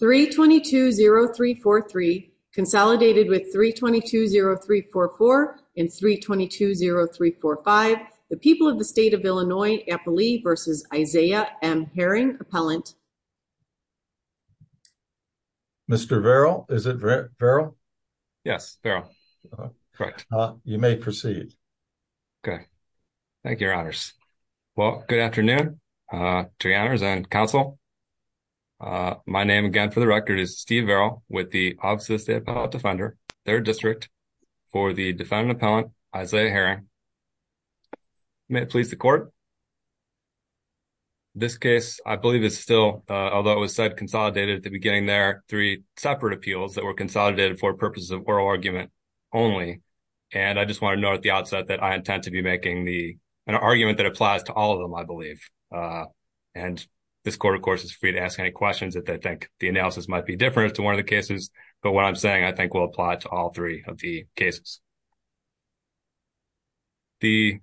3220343 consolidated with 3220344 and 3220345 the people of the state of Illinois Eppley versus Isaiah M. Herring, Appellant. Mr. Varrell, is it Varrell? Yes, Varrell. Correct. You may proceed. Okay. Thank you, your honors. Well, good afternoon to your honors and counsel. My name, again, for the record, is Steve Varrell with the Office of the State Appellant Defender, 3rd District, for the defendant appellant, Isaiah Herring. May it please the court. This case, I believe, is still, although it was said consolidated at the beginning there, three separate appeals that were consolidated for purposes of oral argument only. And I just want to note at the outset that I intend to be making an argument that applies to all of them, I believe. And this court, of course, is free to ask any questions that they think the analysis might be different to one of the cases, but what I'm saying, I think, will apply to all three of the cases. The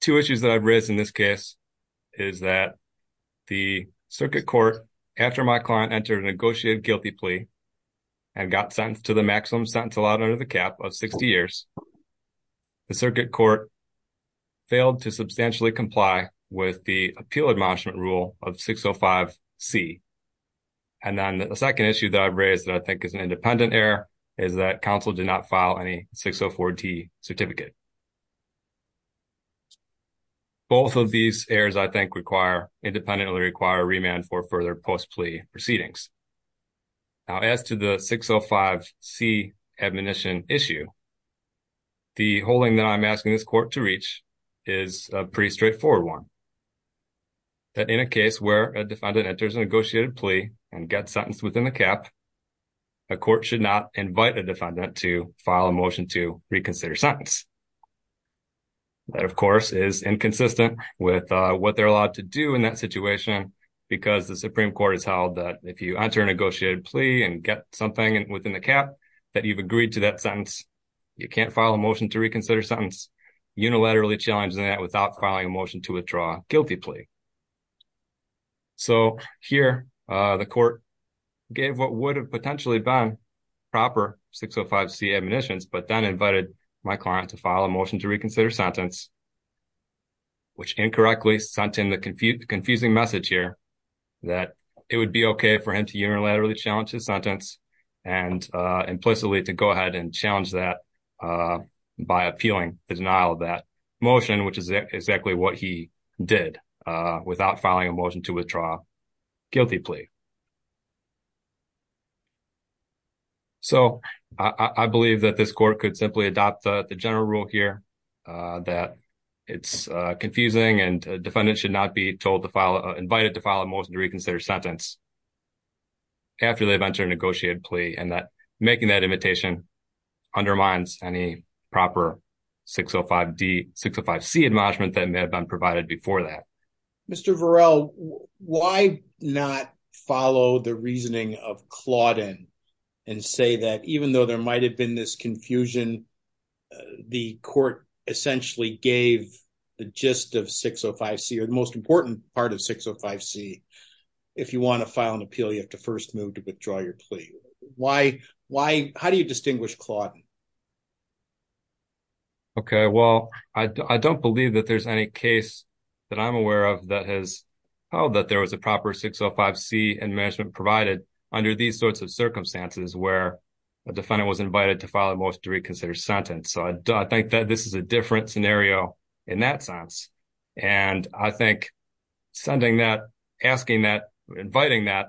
two issues that I've raised in this case is that the circuit court, after my client entered a negotiated guilty plea and got sentenced to the maximum sentence allowed under the with the appeal admonishment rule of 605C. And then the second issue that I've raised that I think is an independent error is that counsel did not file any 604T certificate. Both of these errors, I think, require, independently require, remand for further post-plea proceedings. Now, as to the 605C admonition issue, the holding that I'm asking this court to reach is a pretty straightforward one. That in a case where a defendant enters a negotiated plea and gets sentenced within the cap, a court should not invite a defendant to file a motion to reconsider sentence. That, of course, is inconsistent with what they're allowed to do in that situation because the Supreme Court has held that if you enter a negotiated plea and get something within the cap that you've agreed to that sentence, you can't file a motion to reconsider sentence unilaterally challenging that without filing a motion to withdraw guilty plea. So here, the court gave what would have potentially been proper 605C admonitions, but then invited my client to file a motion to reconsider sentence, which incorrectly sent him the confusing message here that it would be okay for him to unilaterally challenge his sentence and implicitly to go to denial of that motion, which is exactly what he did without filing a motion to withdraw guilty plea. So I believe that this court could simply adopt the general rule here that it's confusing and a defendant should not be invited to file a motion to reconsider sentence after they've and that making that invitation undermines any proper 605C admonishment that may have been provided before that. Mr. Varel, why not follow the reasoning of Clawdon and say that even though there might have been this confusion, the court essentially gave the gist of 605C or the most important part of 605C. If you want to file an appeal, you have to first move to withdraw your plea. Why? How do you distinguish Clawdon? Okay, well, I don't believe that there's any case that I'm aware of that has held that there was a proper 605C admonishment provided under these sorts of circumstances where a defendant was invited to file a motion to reconsider sentence. So I think that this is a different scenario in that sense. And I think sending that, asking that, inviting that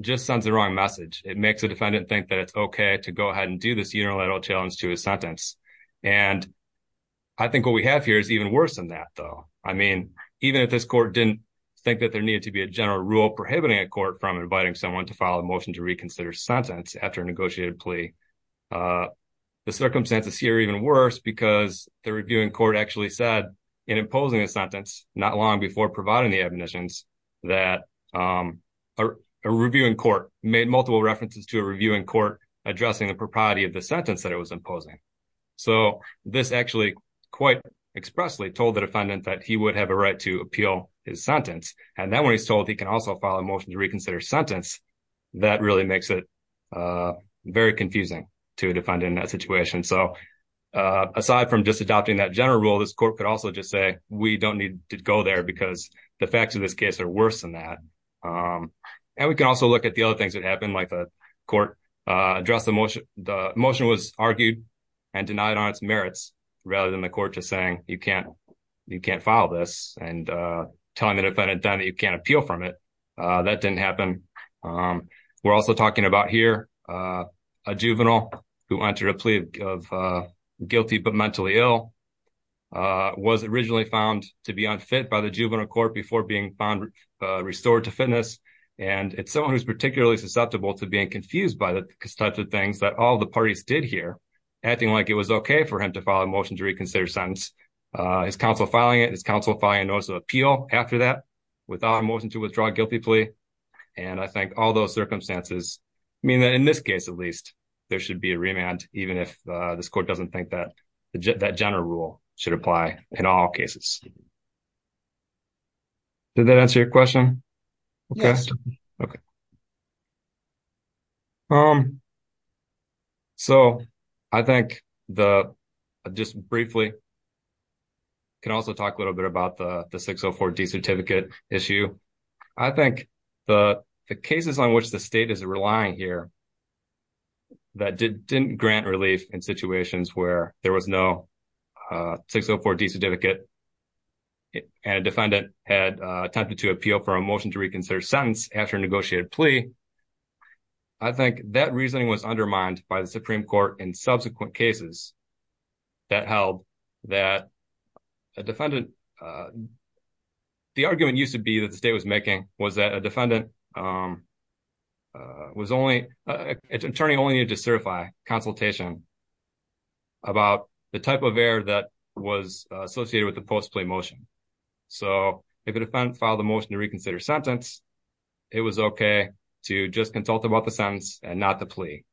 just sends the wrong message. It makes a defendant think that it's okay to go ahead and do this unilateral challenge to his sentence. And I think what we have here is even worse than that, though. I mean, even if this court didn't think that there needed to be a general rule prohibiting a court from inviting someone to file a motion to reconsider sentence after a negotiated plea, the circumstances here are even worse because the reviewing court actually said in imposing a sentence not long before providing the admonitions that a reviewing court made multiple references to a reviewing court addressing the propriety of the sentence that it was imposing. So this actually quite expressly told the defendant that he would have a right to appeal his sentence. And then when he's told he can also file a motion to reconsider sentence, that really makes it very confusing to a defendant in that situation. So aside from just adopting that general rule, this court could also just say, we don't need to go there because the facts of this case are worse than that. And we can also look at the other things that happened, like the court addressed the motion was argued and denied on its merits rather than the court just saying, you can't file this and telling the defendant then that you can't appeal from it. That didn't happen. We're also talking about here, a juvenile who entered a plea of guilty but mentally ill was originally found to be unfit by the juvenile court before being found restored to fitness. And it's someone who's particularly susceptible to being confused by the types of things that all the parties did here, acting like it was okay for him to file a motion to reconsider sentence. His counsel filing it, his counsel filing a notice of appeal after that, without a motion to withdraw a guilty plea. And I think all those circumstances mean that in this case, at least, there should be a remand even if this court doesn't think that that general rule should apply in all cases. Did that answer your question? Yes. Okay. So I think the, just briefly, can also talk a little bit about the 604 D certificate issue. I think the cases on which the state is relying here that didn't grant relief in situations where there was no 604 D certificate and a defendant had attempted to appeal for a motion to reconsider sentence after a negotiated plea. I think that reasoning was undermined by the Supreme Court in subsequent cases that held that a defendant, the argument used to be that the state was making was that a defendant was only, an attorney only needed to certify consultation about the type of error that was associated with the post-plea motion. So if a defendant filed a motion to reconsider sentence, it was okay to just consult about the sentence and not the plea.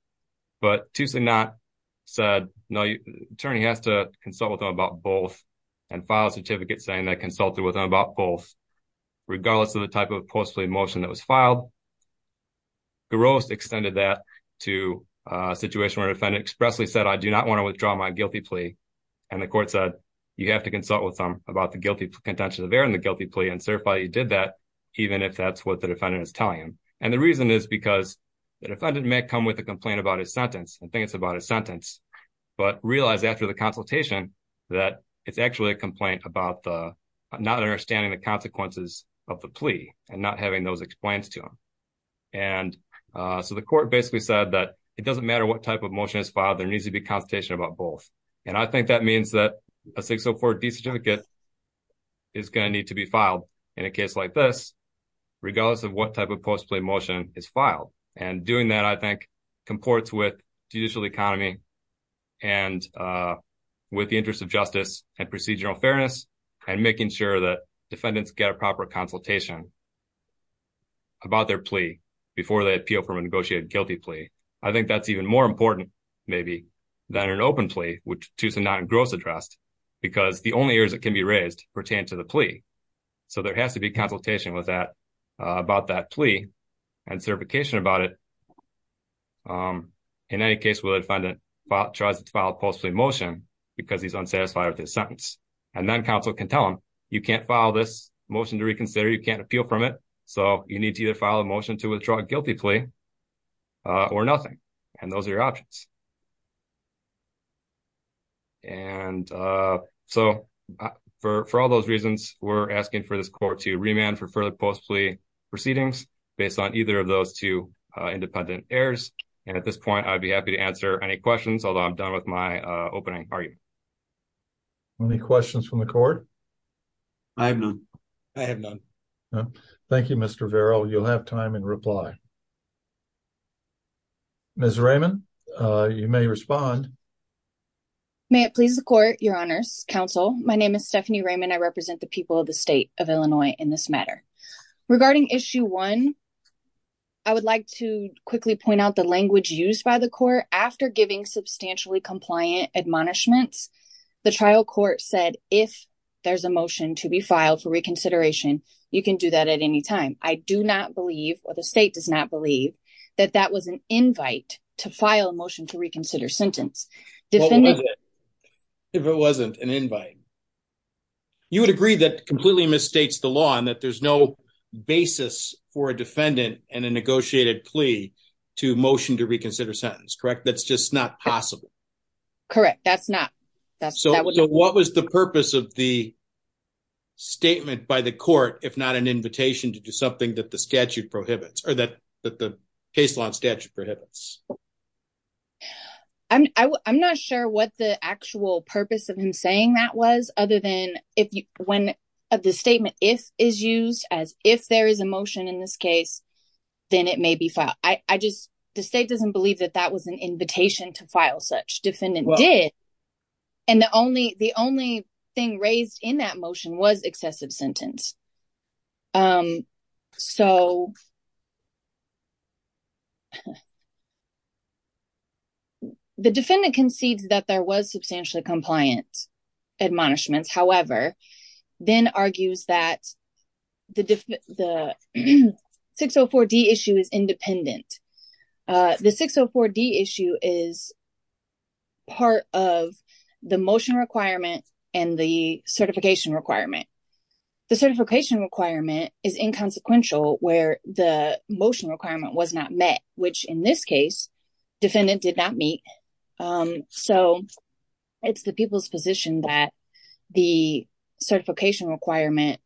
But to say not said, no, attorney has to consult with them about both and file a certificate saying that consulted with them about both, regardless of the type of post-plea motion that was filed. Garost extended that to a situation where a defendant expressly said, I do not want to withdraw my guilty plea. And the court said, you have to consult with them about the guilty contention of error in the guilty plea and certify you did that, even if that's what the defendant is telling him. And the reason is because the defendant may come with a complaint about his sentence. I think it's about a sentence, but realize after the consultation that it's actually a complaint about the not understanding the consequences of the plea and not having those explained to him. And so the court basically said that it doesn't matter what type of motion is filed. There needs to be consultation about both. And I think that means that a 604D certificate is going to need to be filed in a case like this, regardless of what type of post-plea motion is filed. And doing that, I think, comports with judicial economy and with the interest of justice and procedural fairness and making sure that defendants get a proper consultation about their plea before they appeal from a negotiated guilty plea. I think that's even more important, maybe, than an open plea, which is a non-engrossed address, because the only areas that can be raised pertain to the plea. So there has to be consultation with that, about that plea and certification about it. In any case, when a defendant tries to file a post-plea motion because he's unsatisfied with his sentence, and then counsel can tell him, you can't file this motion to reconsider, you can't appeal from it. So you need to either file a motion to withdraw a guilty plea or nothing. And those are your options. And so for all those reasons, we're asking for this court to remand for further post-plea proceedings based on either of those two independent errors. And at this point, I'd be happy to answer any questions, although I'm done with my opening argument. Any questions from the court? I have none. I have none. Thank you, Mr. Vero. You'll have time in reply. Ms. Raymond, you may respond. May it please the court, your honors, counsel. My name is Stephanie Raymond. I represent the people of the state of Illinois in this matter. Regarding issue one, I would like to quickly point out the language used by the court. After giving substantially compliant admonishments, the trial court said, if there's a motion to be filed for reconsideration, you can do that at any time. I do not believe, or the state does not believe, that that was an invite to file a motion to reconsider sentence. If it wasn't an invite, you would agree that completely misstates the law and that there's no basis for a defendant and a negotiated plea to motion to reconsider sentence, correct? That's just not possible. Correct, that's not. What was the purpose of the statement by the court, if not an invitation to do something that the statute prohibits, or that the case law and statute prohibits? I'm not sure what the actual purpose of him saying that was, other than when the statement if is used as if there is a motion in this case, then it may be filed. The state doesn't believe that that was an invitation to file such. It did, and the only thing raised in that motion was excessive sentence. The defendant concedes that there was substantially compliant admonishments, however, then argues that the 604D issue is independent. The 604D issue is part of the motion requirement and the certification requirement. The certification requirement is inconsequential where the motion requirement was not met, which in this case, defendant did not meet. So, it's the people's position that the certification requirement,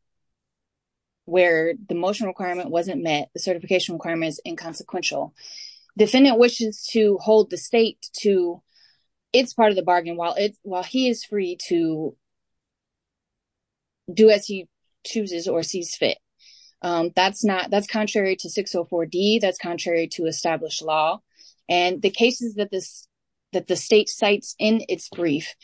where the motion requirement wasn't met, the certification requirement is inconsequential. Defendant wishes to hold the state to its part of the bargain while he is free to do as he chooses or sees fit. That's contrary to 604D, that's contrary to established law, and the cases that the state cites in its brief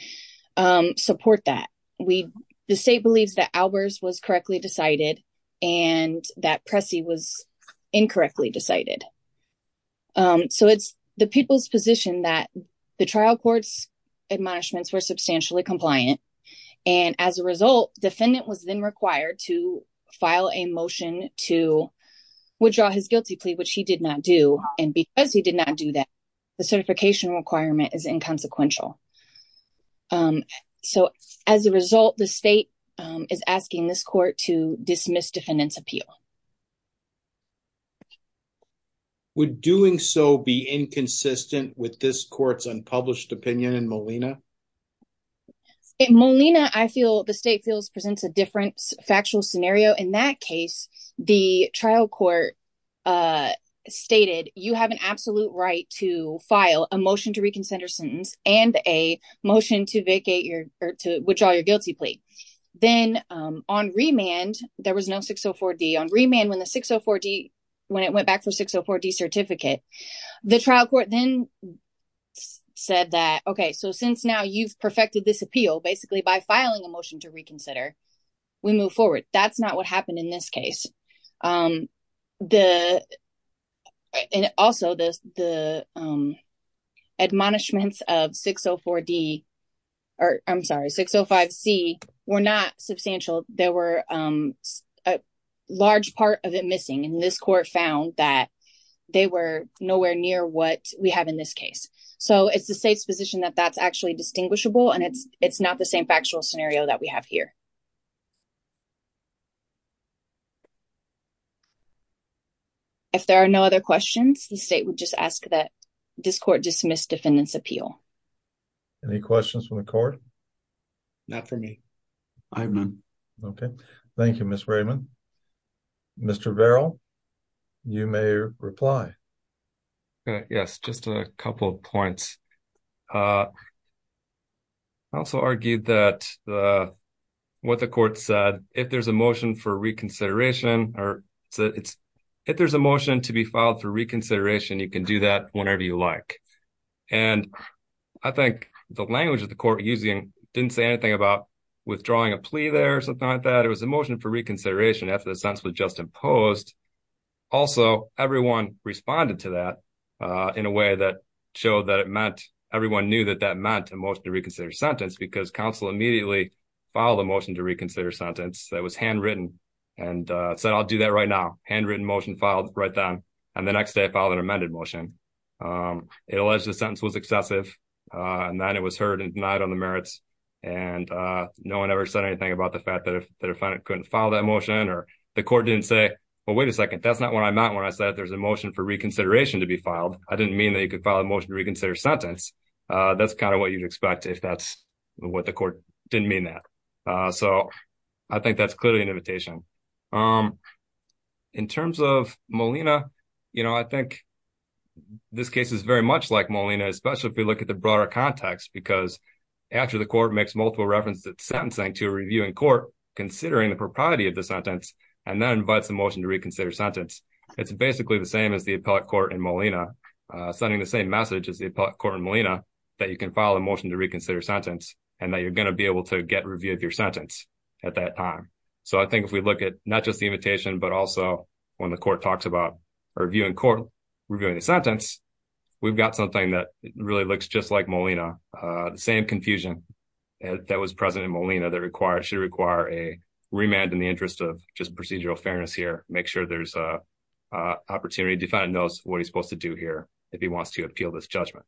support that. The state believes that Albers was correctly decided and that Pressy was incorrectly decided. So, it's the people's position that the trial court's admonishments were substantially compliant, and as a result, defendant was then required to file a motion to withdraw his guilty plea, which he did not do, and because he did not do that, the certification requirement is inconsequential. So, as a result, the state is asking this court to dismiss defendant's appeal. Would doing so be inconsistent with this court's unpublished opinion in Molina? In Molina, I feel the state feels presents a different factual scenario. In that case, the trial court stated, you have an absolute right to file a motion to motion to vacate your, to withdraw your guilty plea. Then, on remand, there was no 604D. On remand, when the 604D, when it went back for 604D certificate, the trial court then said that, okay, so since now you've perfected this appeal, basically by filing a motion to reconsider, we move forward. That's not what happened in this case. The, and also, the admonishments of 604D, or I'm sorry, 605C were not substantial. There were a large part of it missing, and this court found that they were nowhere near what we have in this case. So, it's the state's position that that's actually distinguishable, and it's not the same factual scenario that we have here. If there are no other questions, the state would just ask that this court dismiss defendant's appeal. Any questions from the court? Not for me. I have none. Okay. Thank you, Ms. Raymond. Mr. Verrill, you may reply. Yes, just a couple of points. I also argued that the, what the court said, if there's a motion for reconsideration, it's, if there's a motion to be filed for reconsideration, you can do that whenever you like. And I think the language of the court using, didn't say anything about withdrawing a plea there or something like that. It was a motion for reconsideration after the sentence was just imposed. Also, everyone responded to that in a way that showed that it meant, everyone knew that that meant a motion to reconsider sentence, because counsel immediately filed a motion to reconsider sentence that was handwritten and said, I'll do that right now. Handwritten motion filed right then. And the next day I filed an amended motion. It alleged the sentence was excessive and that it was heard and denied on the merits. And no one ever said anything about the fact that the defendant couldn't file that motion or the court didn't say, well, wait a second. That's not what I meant when I said there's a motion for reconsideration to be filed. I didn't mean that you could file a motion to reconsider sentence. That's kind of what you'd expect if that's what the court didn't mean that. So I think that's clearly an invitation. In terms of Molina, you know, I think this case is very much like Molina, especially if we look at the broader context, because after the court makes multiple references at sentencing to a reviewing court, considering the propriety of the sentence, and then invites the motion to reconsider sentence, it's basically the same as the appellate court in Molina sending the same message as the appellate court in Molina that you can file a motion to reconsider sentence and that you're going to be able to get review of your sentence at that time. So I think if we look at not just the invitation, but also when the court talks about a reviewing court, reviewing the sentence, we've got something that really looks just like Molina, the same confusion that was present in Molina that should require a remand in the interest of just procedural fairness here. Make sure there's an opportunity. Defendant knows what he's supposed to do here if he wants to appeal this judgment.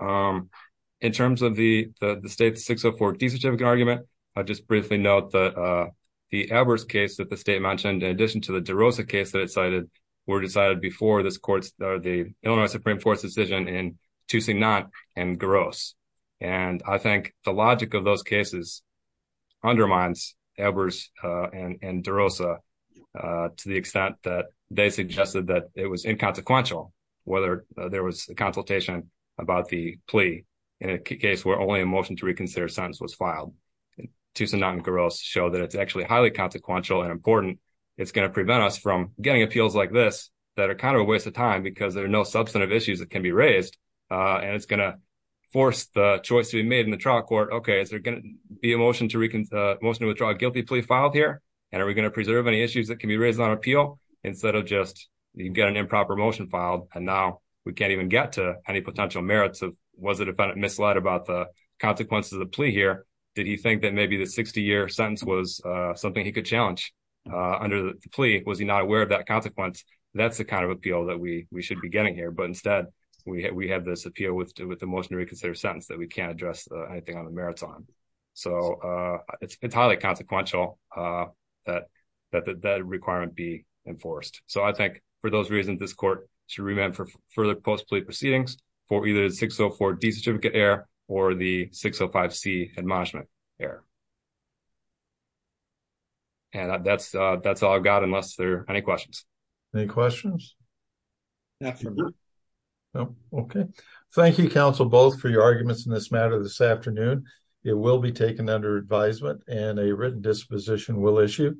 In terms of the state's 604D certificate argument, I'll just briefly note that the Ebers case that the state mentioned, in addition to the DeRosa case that it cited, were decided before this court's, the Illinois Supreme Court's decision in Toussignant and Garos. And I think the logic of those cases undermines Ebers and DeRosa to the extent that they suggested that it was inconsequential, whether there was a consultation about the plea in a case where only a motion to reconsider sentence was filed. Toussignant and Garos show that it's actually highly consequential and important. It's going to prevent us from getting appeals like this that are kind of a waste of time because there are no substantive issues that can be raised and it's going to force the choice to be made in the trial court. Okay, is there going to be a motion to withdraw a guilty plea filed here? And are we going to preserve any issues that can be raised on appeal instead of just get an improper motion filed and now we can't even get to any potential merits of was the defendant misled about the consequences of the plea here? Did he think that maybe the 60-year sentence was something he could challenge under the plea? Was he not aware of that consequence? That's the kind of appeal that we should be getting here. But instead, we have this appeal with the motion to reconsider sentence that we can't address anything on the merits on. So it's highly consequential that that requirement be enforced. So I think for those reasons, this court should remand for further post-plea proceedings for either the 604D certificate error or the 605C admonishment error. And that's all I've got unless there are any questions. Any questions? Okay. Thank you, counsel, both for your arguments in this matter this afternoon. It will be taken under advisement and a written disposition will issue.